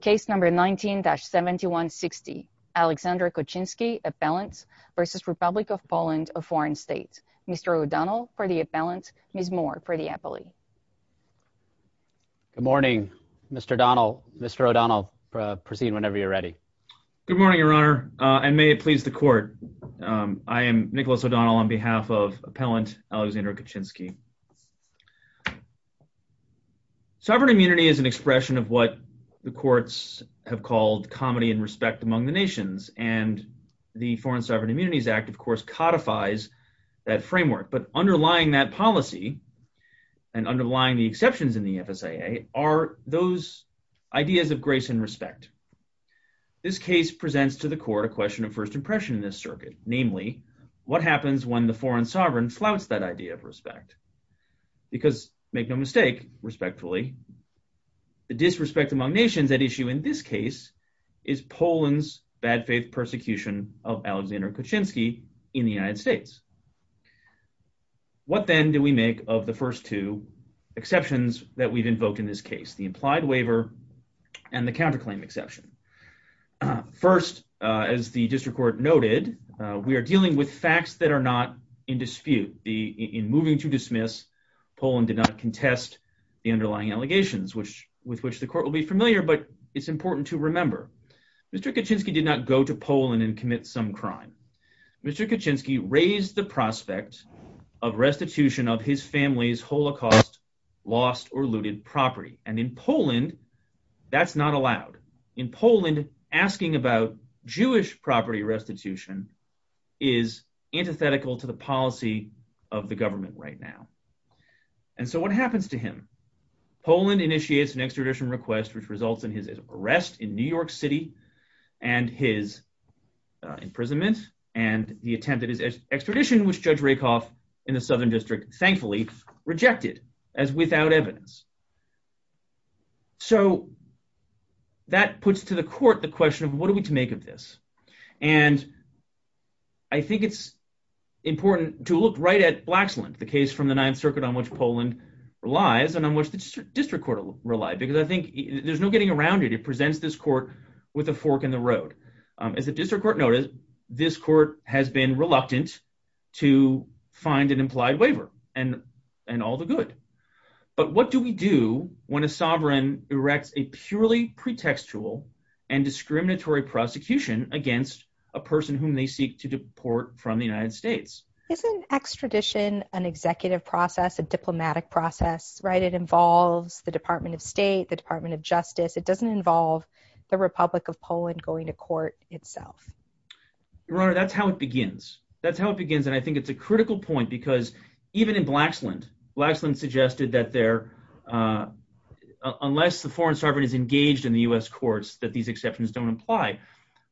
Case number 19-7160. Alexander Khochinsky, appellant, versus Republic of Poland, a foreign state. Mr. O'Donnell for the appellant, Ms. Moore for the appellee. Good morning, Mr. O'Donnell. Mr. O'Donnell, proceed whenever you're ready. Good morning, Your Honor, and may it please the court. I am Nicholas O'Donnell on behalf of appellant Alexander Khochinsky. Sovereign immunity is an issue that the courts have called comedy and respect among the nations, and the Foreign Sovereign Immunities Act, of course, codifies that framework. But underlying that policy, and underlying the exceptions in the FSAA, are those ideas of grace and respect. This case presents to the court a question of first impression in this circuit, namely, what happens when the foreign sovereign flouts that idea of respect? Because, make no mistake, respectfully, the disrespect among nations at issue in this case is Poland's bad faith persecution of Alexander Khochinsky in the United States. What then do we make of the first two exceptions that we've invoked in this case, the implied waiver and the counterclaim exception? First, as the District Court noted, we are dealing with facts that are not in dispute. In moving to dismiss, Poland did not Mr. Kochinsky did not go to Poland and commit some crime. Mr. Kochinsky raised the prospect of restitution of his family's Holocaust lost or looted property, and in Poland that's not allowed. In Poland, asking about Jewish property restitution is antithetical to the policy of the government right now. And so what happens to him? Poland initiates an extradition request which results in his arrest in New York City and his imprisonment and the attempt at his extradition, which Judge Rakoff in the Southern District, thankfully, rejected as without evidence. So that puts to the court the question of what are we to make of this? And I think it's important to look right at Blaxland, the case from the Ninth Circuit on which Poland relies and on which the District Court relies, because I think there's no getting around it. It presents this court with a fork in the road. As the District Court noted, this court has been reluctant to find an implied waiver and and all the good. But what do we do when a sovereign erects a purely pretextual and discriminatory prosecution against a person whom they seek to deport from the diplomatic process, right? It involves the Department of State, the Department of Justice. It doesn't involve the Republic of Poland going to court itself. Your Honor, that's how it begins. That's how it begins and I think it's a critical point because even in Blaxland, Blaxland suggested that unless the foreign sovereign is engaged in the U.S. courts that these exceptions don't apply.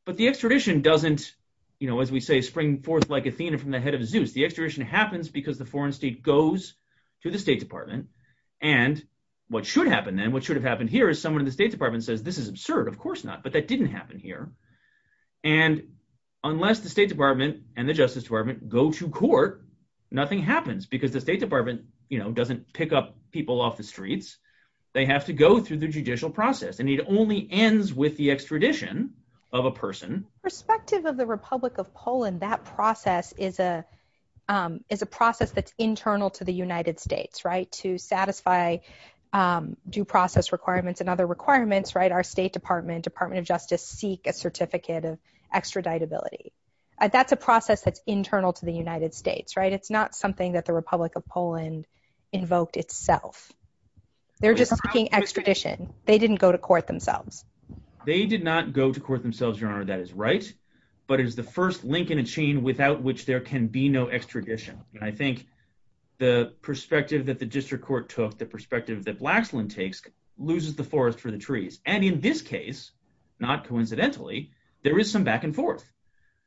But the extradition doesn't, you know, as we say, spring forth like Athena from the head of Zeus. The extradition happens because the foreign state goes to the State Department and what should happen then, what should have happened here, is someone in the State Department says, this is absurd, of course not, but that didn't happen here. And unless the State Department and the Justice Department go to court, nothing happens because the State Department, you know, doesn't pick up people off the streets. They have to go through the judicial process and it only ends with the extradition of a person. Perspective of the Republic of Poland, that process is a process that's internal to the United States, right? To satisfy due process requirements and other requirements, right, our State Department, Department of Justice seek a certificate of extraditability. That's a process that's internal to the United States, right? It's not something that the Republic of Poland invoked itself. They're just seeking extradition. They didn't go to court themselves. They did not go to court themselves, Your Honor, that is right, but it is the first link in a chain without which there can be no extradition. I think the perspective that the district court took, the perspective that Blaxland takes, loses the forest for the trees. And in this case, not coincidentally, there is some back and forth.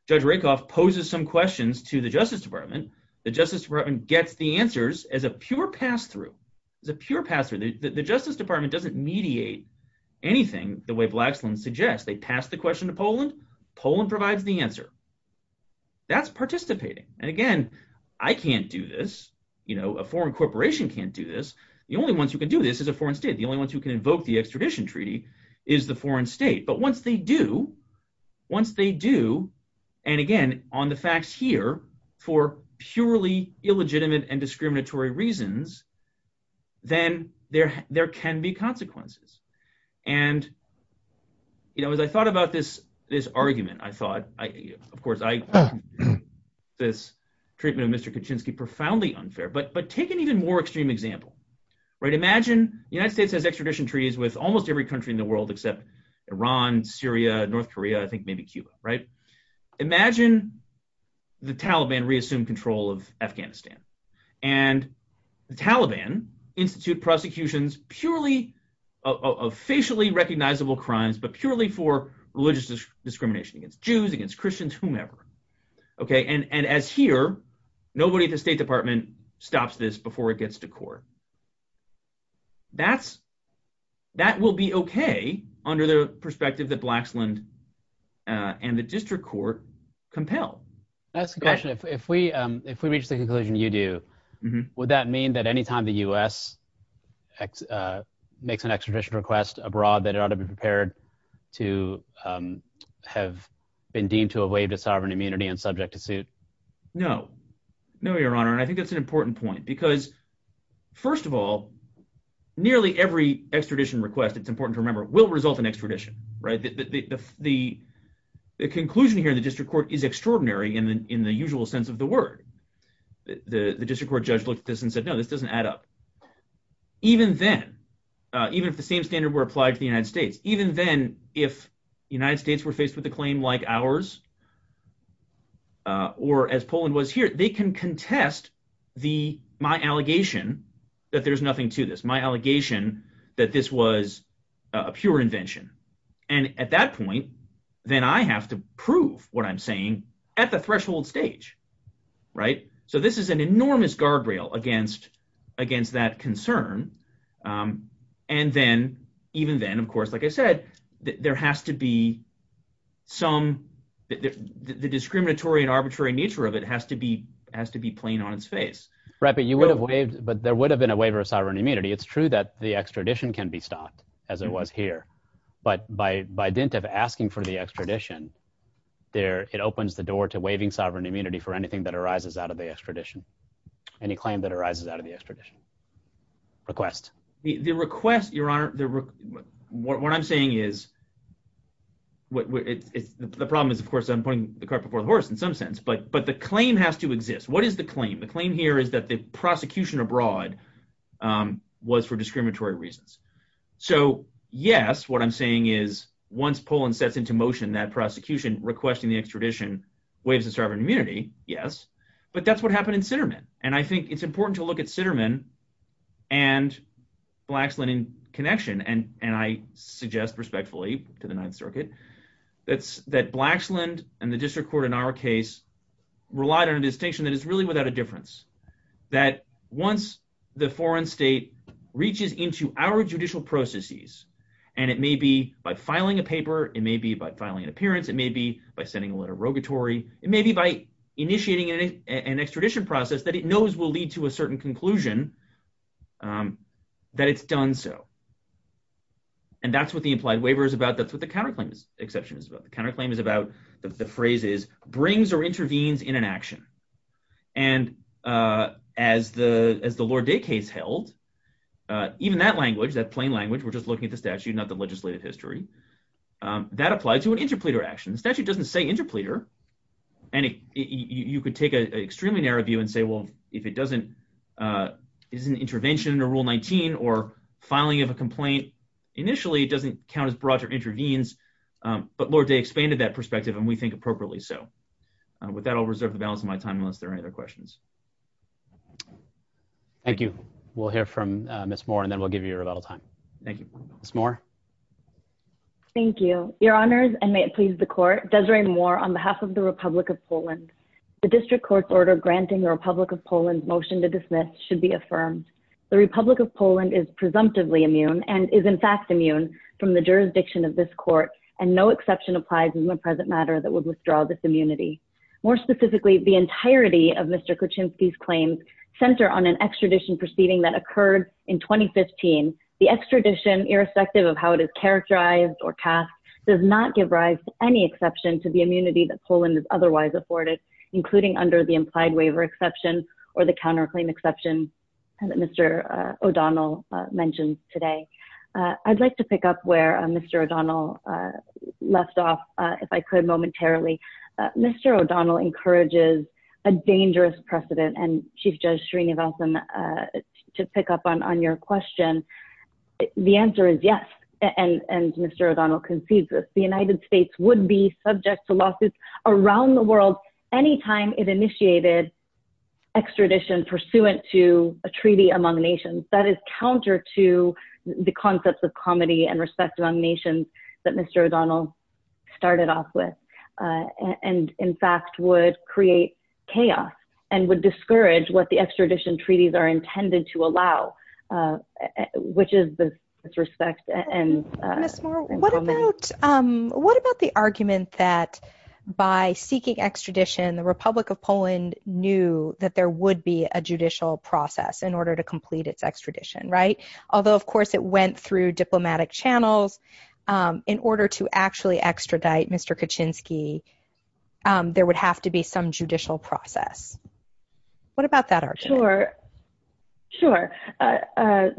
Judge Rakoff poses some questions to the Justice Department. The Justice Department gets the answers as a pure pass-through, as a pure pass-through. The way Blaxland suggests, they pass the question to Poland, Poland provides the answer. That's participating. And again, I can't do this, you know, a foreign corporation can't do this. The only ones who can do this is a foreign state. The only ones who can invoke the extradition treaty is the foreign state. But once they do, once they do, and again, on the facts here, for purely illegitimate and you know, as I thought about this, this argument, I thought, of course, I this treatment of Mr. Kuczynski profoundly unfair, but, but take an even more extreme example, right? Imagine the United States has extradition treaties with almost every country in the world except Iran, Syria, North Korea, I think maybe Cuba, right? Imagine the Taliban reassume control of Afghanistan, and the but purely for religious discrimination against Jews, against Christians, whomever. Okay, and, and as here, nobody at the State Department stops this before it gets to court. That's, that will be okay, under the perspective that Blaxland and the district court compel. That's the question. If we, if we reach the conclusion you do, would that mean that anytime the US makes an extradition request abroad, that it ought to be to have been deemed to have waived a sovereign immunity and subject to suit? No, no, Your Honor, and I think that's an important point, because first of all, nearly every extradition request, it's important to remember, will result in extradition, right? The, the, the, the conclusion here in the district court is extraordinary in the, in the usual sense of the word. The, the district court judge looked at this and said, no, this doesn't add up. Even then, even if the same standard were applied to the United States, even then, if the United States were faced with a claim like ours, or as Poland was here, they can contest the, my allegation that there's nothing to this, my allegation that this was a pure invention. And at that point, then I have to prove what I'm saying at the threshold stage, right? So this is an enormous guardrail against, against that concern. And then even then, of course, like I said, there has to be some, the discriminatory and arbitrary nature of it has to be, has to be plain on its face. Right, but you would have waived, but there would have been a waiver of sovereign immunity. It's true that the extradition can be stopped as it was here, but by, by dint of asking for the extradition there, it opens the door to waiving sovereign immunity for anything that arises out of the extradition, any claim that arises out of the extradition. Request. The request, Your Honor, what I'm saying is, the problem is, of course, I'm putting the cart before the horse in some sense, but, but the claim has to exist. What is the claim? The claim here is that the prosecution abroad was for discriminatory reasons. So yes, what I'm saying is once Poland sets into motion that prosecution requesting the extradition waives the sovereign immunity, yes, but that's happened in Sitterman. And I think it's important to look at Sitterman and Blaxland in connection. And, and I suggest respectfully to the ninth circuit, that's that Blaxland and the district court in our case relied on a distinction that is really without a difference that once the foreign state reaches into our judicial processes, and it may be by filing a paper, it may be by filing an appearance. It may be by sending a letter rogatory. It may be by initiating an extradition process that it knows will lead to a certain conclusion that it's done so. And that's what the implied waiver is about. That's what the counterclaim exception is about. The counterclaim is about the phrases brings or intervenes in an action. And as the, as the Lord Day case held, even that language, that plain language, we're just looking at the statute, not the legislative history, that applied to an interpleader action. The statute doesn't say interpleader, and you could take an extremely narrow view and say, well, if it doesn't, is an intervention to rule 19 or filing of a complaint, initially, it doesn't count as brought or intervenes. But Lord Day expanded that perspective and we think appropriately. So with that, I'll reserve the balance of my time unless there are any other questions. Thank you. We'll hear from Ms. Moore and then we'll give you your rebuttal time. Thank you. Ms. Moore. Thank you, your honors. And may it please the court, Desiree Moore on behalf of the Republic of Poland, the district court's order, granting the Republic of Poland motion to dismiss should be affirmed. The Republic of Poland is presumptively immune and is in fact immune from the jurisdiction of this court. And no exception applies in the present matter that would withdraw this immunity. More specifically, the entirety of Mr. Kuczynski's claims center on an extradition proceeding that occurred in 2015, the extradition irrespective of how it is characterized or cast does not give rise to any exception to the immunity that Poland is otherwise afforded, including under the implied waiver exception or the counterclaim exception that Mr. O'Donnell mentioned today. I'd like to pick up where Mr. O'Donnell left off if I could momentarily. Mr. O'Donnell encourages a dangerous precedent and Chief Judge Srinivasan to pick up on your question. The answer is yes, and Mr. O'Donnell concedes this. The United States would be subject to lawsuits around the world anytime it initiated extradition pursuant to a treaty among nations. That is counter to the concepts of comity and respect among nations that Mr. O'Donnell started off with, and in fact would create chaos and would discourage what the extradition treaties are intended to allow, which is this disrespect. Ms. Moore, what about the argument that by seeking extradition, the Republic of Poland knew that there would be a judicial process in order to complete its extradition, right? Although of course it went through diplomatic channels in order to actually extradite Mr. Kaczynski, there would have to be some judicial process. What about that argument? Sure, sure.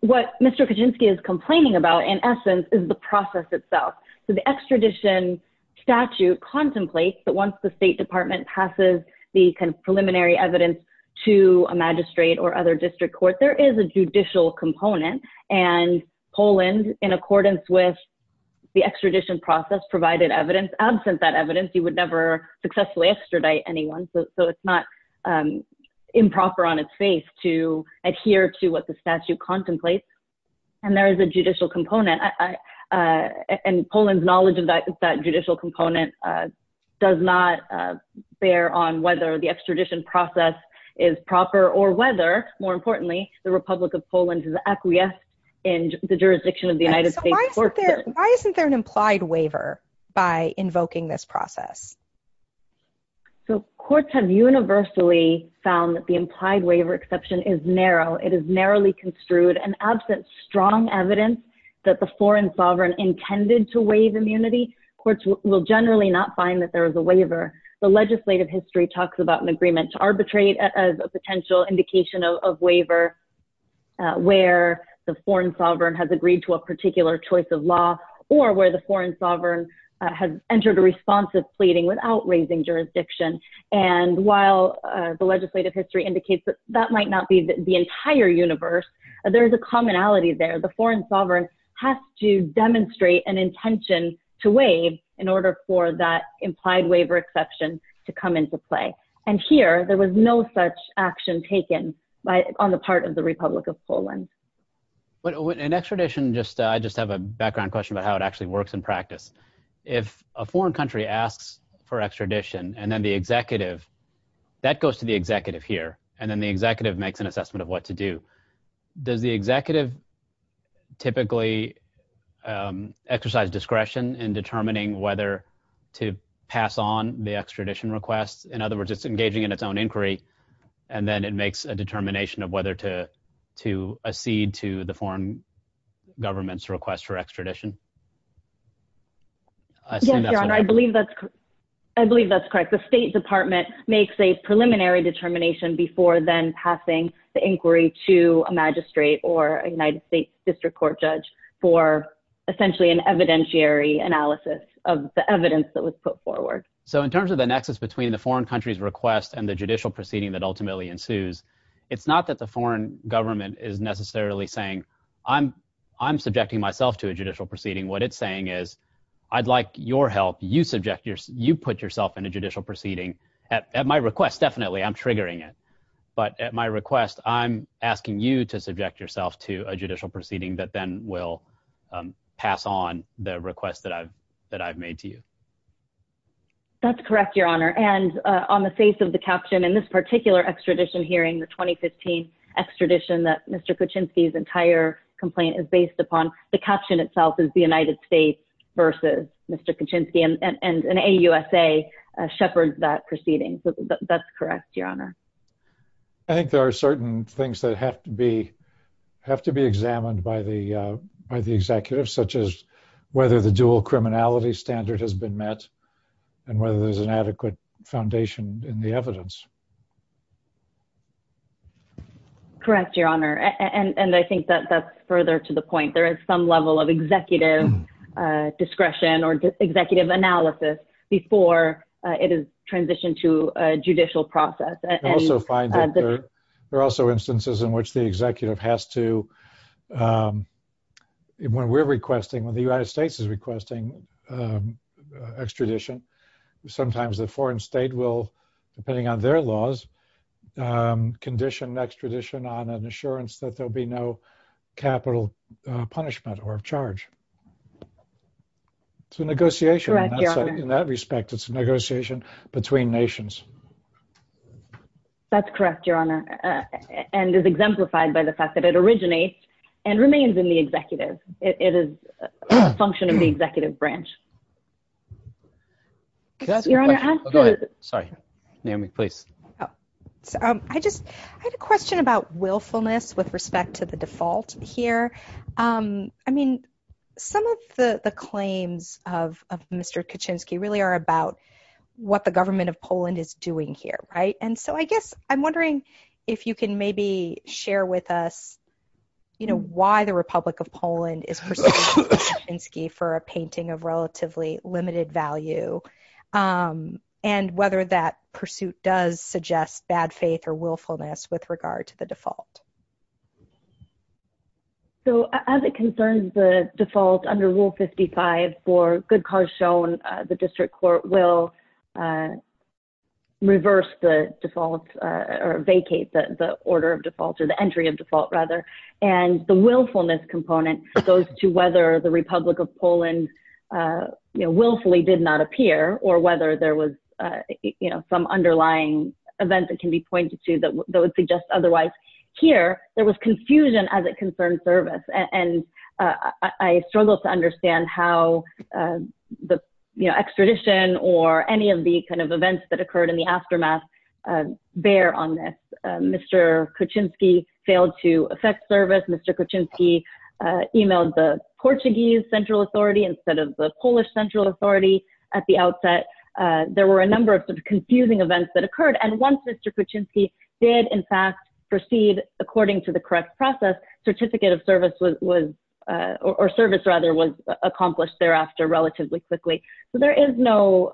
What Mr. Kaczynski is complaining about in essence is the process itself. So the extradition statute contemplates that once the State Department passes the kind of preliminary evidence to a magistrate or other district court, there is a judicial component. And Poland, in accordance with the extradition process, provided evidence. Absent that evidence, you would never successfully extradite anyone. So it's not improper on its face to adhere to what the statute contemplates. And there is a judicial component. And Poland's knowledge of that judicial component does not bear on whether the extradition process is proper or whether, more importantly, the Republic of Poland is acquiesced in the jurisdiction of the United States. Why isn't there an implied waiver by invoking this process? So courts have universally found that the implied waiver exception is narrow. It is narrowly construed and absent strong evidence that the foreign sovereign intended to waive immunity. Courts will generally not find that there is a waiver. The legislative history talks about an potential indication of waiver where the foreign sovereign has agreed to a particular choice of law or where the foreign sovereign has entered a responsive pleading without raising jurisdiction. And while the legislative history indicates that that might not be the entire universe, there is a commonality there. The foreign sovereign has to demonstrate an intention to waive in order for that implied waiver exception to come into play. And here, there was no such action taken on the part of the Republic of Poland. In extradition, I just have a background question about how it actually works in practice. If a foreign country asks for extradition and then the executive, that goes to the executive here, and then the executive makes an assessment of what to do. Does the executive typically exercise discretion in determining whether to pass on the extradition request? In other words, it's engaging in its own inquiry, and then it makes a determination of whether to accede to the foreign government's request for extradition? Yes, Your Honor, I believe that's correct. The State Department makes a preliminary determination before then passing the inquiry to a magistrate or a United States District Court judge for essentially an evidentiary analysis of the evidence that was put forward. So in terms of the nexus between the foreign country's request and the judicial proceeding that ultimately ensues, it's not that the foreign government is necessarily saying, I'm subjecting myself to a judicial proceeding. What it's saying is, I'd like your help. You put yourself in a judicial proceeding. At my request, definitely, I'm triggering it. But at my request, I'm asking you to subject yourself to a judicial proceeding that then will pass on the request that I've made to you. That's correct, Your Honor. And on the face of the caption in this particular extradition hearing, the 2015 extradition that Mr. Kuczynski's entire complaint is based upon, the caption itself is the United States versus Mr. Kuczynski, and an AUSA shepherds that proceeding. So that's correct, Your Honor. I think there are certain things that have to be examined by the executive, such as whether the dual criminality standard has been met, and whether there's an adequate foundation in the evidence. Correct, Your Honor. And I think that that's further to the point. There is some level of executive discretion or executive analysis before it is transitioned to a judicial process. I also find that there are also instances in which the executive has to, when we're requesting, when the United States is requesting extradition, sometimes the foreign state will, depending on their laws, condition extradition on an assurance that there'll be no capital punishment or charge. It's a negotiation in that respect. It's a negotiation between nations. That's correct, Your Honor, and is exemplified by the fact that it remains in the executive. It is a function of the executive branch. Your Honor, I'm sorry. Naomi, please. I just had a question about willfulness with respect to the default here. I mean, some of the claims of Mr. Kuczynski really are about what the government of Poland is doing here, right? And so I guess I'm wondering if you can maybe share with us, you know, why the Republic of Poland is pursuing Mr. Kuczynski for a painting of relatively limited value, and whether that pursuit does suggest bad faith or willfulness with regard to the default. So as it concerns the default under Rule 55, for good cause shown, the district court will reverse the default, or vacate the order of default, or the entry of default, rather. And the willfulness component goes to whether the Republic of Poland, you know, willfully did not appear, or whether there was, you know, some underlying event that can be pointed to that would suggest otherwise. Here, there was confusion as it the, you know, extradition or any of the kind of events that occurred in the aftermath bear on this. Mr. Kuczynski failed to effect service. Mr. Kuczynski emailed the Portuguese Central Authority instead of the Polish Central Authority at the outset. There were a number of confusing events that occurred. And once Mr. Kuczynski did, in fact, proceed according to correct process, certificate of service was, or service rather, was accomplished thereafter relatively quickly. So there is no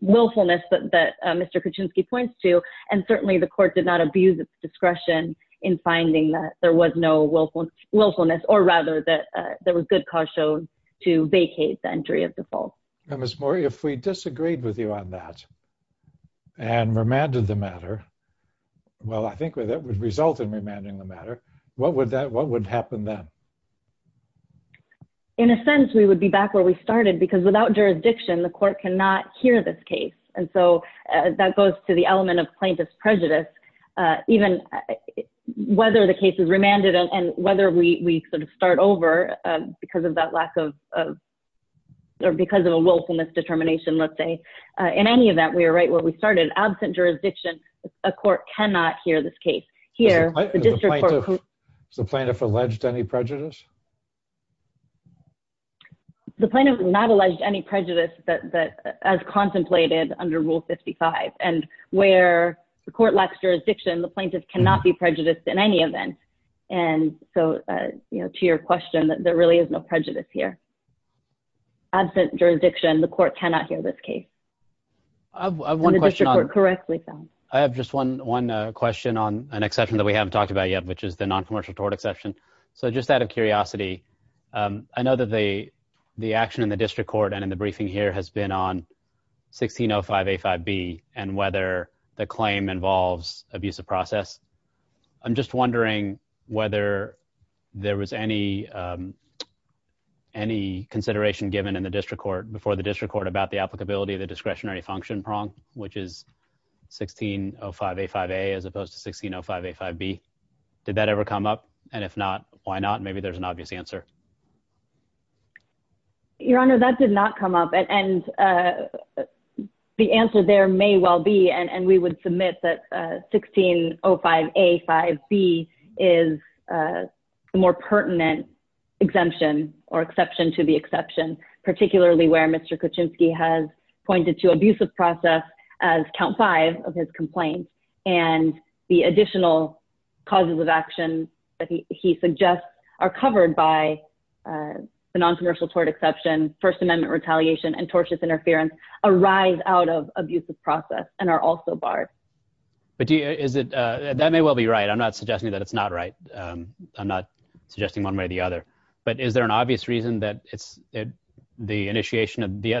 willfulness that Mr. Kuczynski points to, and certainly the court did not abuse its discretion in finding that there was no willfulness, or rather that there was good cause shown to vacate the entry of default. Now, Ms. Mori, if we disagreed with you on that, and remanded the matter, well, I think that would result in remanding the matter, what would that, what would happen then? In a sense, we would be back where we started, because without jurisdiction, the court cannot hear this case. And so that goes to the element of plaintiff's prejudice, even whether the case is remanded and whether we sort of start over because of that lack of, or because of a willfulness determination, let's say. In any event, we were right where we started. Absent jurisdiction, a court cannot hear this case. Here, the district court- Has the plaintiff alleged any prejudice? The plaintiff has not alleged any prejudice as contemplated under Rule 55. And where the court lacks jurisdiction, the plaintiff cannot be prejudiced in any event. And so, you know, there really is no prejudice here. Absent jurisdiction, the court cannot hear this case. I have one question on- And the district court correctly found. I have just one question on an exception that we haven't talked about yet, which is the non-commercial tort exception. So just out of curiosity, I know that the action in the district court and in the briefing here has been on 1605A5B, and whether the claim involves abuse of process. I'm just wondering if there was any consideration given in the district court, before the district court, about the applicability of the discretionary function prong, which is 1605A5A as opposed to 1605A5B. Did that ever come up? And if not, why not? Maybe there's an obvious answer. Your Honor, that did not come up. And the answer there may well be, and we would submit that the more pertinent exemption or exception to the exception, particularly where Mr. Kuczynski has pointed to abusive process as count five of his complaint. And the additional causes of action that he suggests are covered by the non-commercial tort exception, First Amendment retaliation, and tortious interference, arise out of abusive process and are also barred. But that may well be right. I'm not suggesting that it's not right. I'm not suggesting one way or the other. But is there an obvious reason that the initiation of the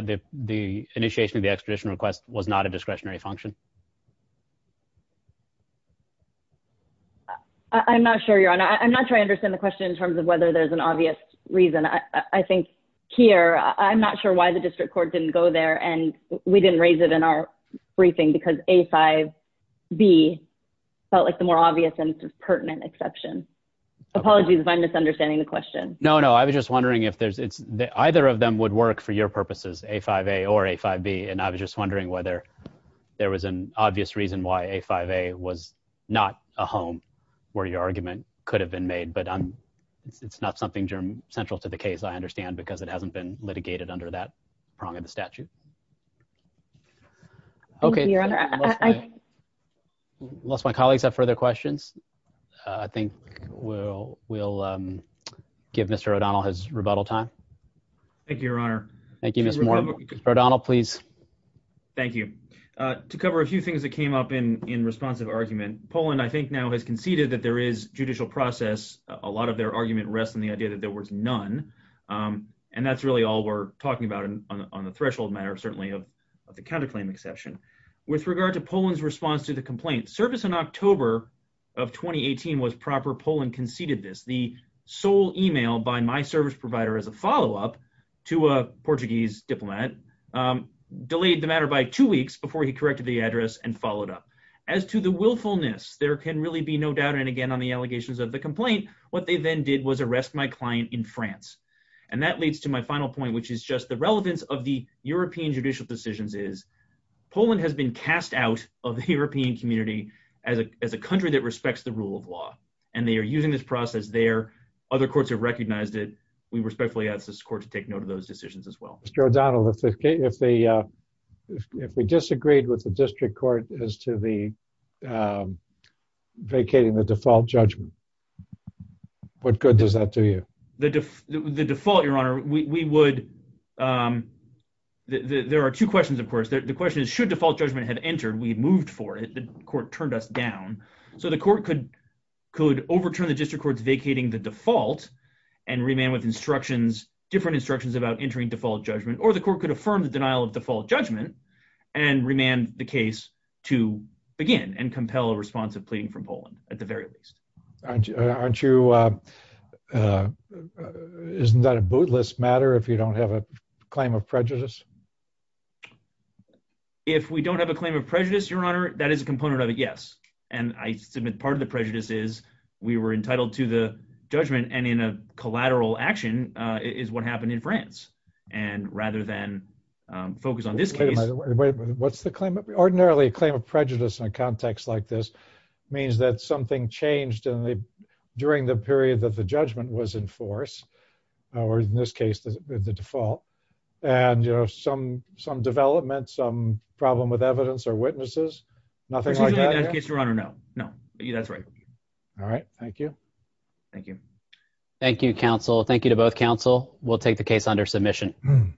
extradition request was not a discretionary function? I'm not sure, Your Honor. I'm not sure I understand the question in terms of whether there's an obvious reason. I think here, I'm not sure why the district court didn't go there, and we didn't raise it in our briefing because A5B felt like the more obvious and pertinent exception. Apologies if I'm misunderstanding the question. No, no. I was just wondering if either of them would work for your purposes, A5A or A5B. And I was just wondering whether there was an obvious reason why A5A was not a home where your argument could have been made. But it's not something central to the case, I understand, because it was not a home. It was a home. It was a home. But I'm not sure if it's a home that's a home. I'm not sure if it's a home that's a home that's a home that's a home that's a home. Okay. Thank you, Your Honor. Unless my colleagues have further questions, I think we'll, we'll give Mr. O'Donnell his rebuttal time. Thank you, Your Honor. Thank you, Ms. Moore. O'Donnell, please. Thank you. To cover a few things that came up in responsive argument, I think now has conceded that there is judicial process. A lot of their argument rests on the idea that there was none. And that's really all we're talking about on the threshold matter, certainly of the counterclaim exception. With regard to Poland's response to the complaint, service in October of 2018 was proper. Poland conceded this. The sole email by my service provider as a follow-up to a Portuguese diplomat delayed the matter by two weeks before he was released. There can really be no doubt. And again, on the allegations of the complaint, what they then did was arrest my client in France. And that leads to my final point, which is just the relevance of the European judicial decisions is Poland has been cast out of the European community as a, as a country that respects the rule of law. And they are using this process there. Other courts have recognized it. We respectfully ask this court to take note of those decisions as well. Mr. O'Donnell, if they, if they, if they disagreed with the district court as to the vacating the default judgment, what good does that do you? The def, the default, your honor, we, we would there are two questions. Of course, the question is should default judgment had entered, we moved for it. The court turned us down. So the court could, could overturn the district courts vacating the default and remand with instructions, different instructions about entering default judgment, or the court could affirm the denial of default judgment and remand the case to begin and compel a responsive plea from Poland at the very least. Aren't you, aren't you isn't that a bootless matter if you don't have a claim of prejudice? If we don't have a claim of prejudice, your honor, that is a component of it. Yes. And I submit part of the prejudice is we were entitled to the judgment and in a collateral action is what happened in France. And rather than focus on this case, what's the claim? Ordinarily a claim of prejudice in a context like this means that something changed in the, during the period that the judgment was in force or in this case, the default and you know, some, some development, some problem with evidence or witnesses, nothing like that. No, no, that's right. All right. Thank you. Thank you. Thank you. We'll take the case under submission.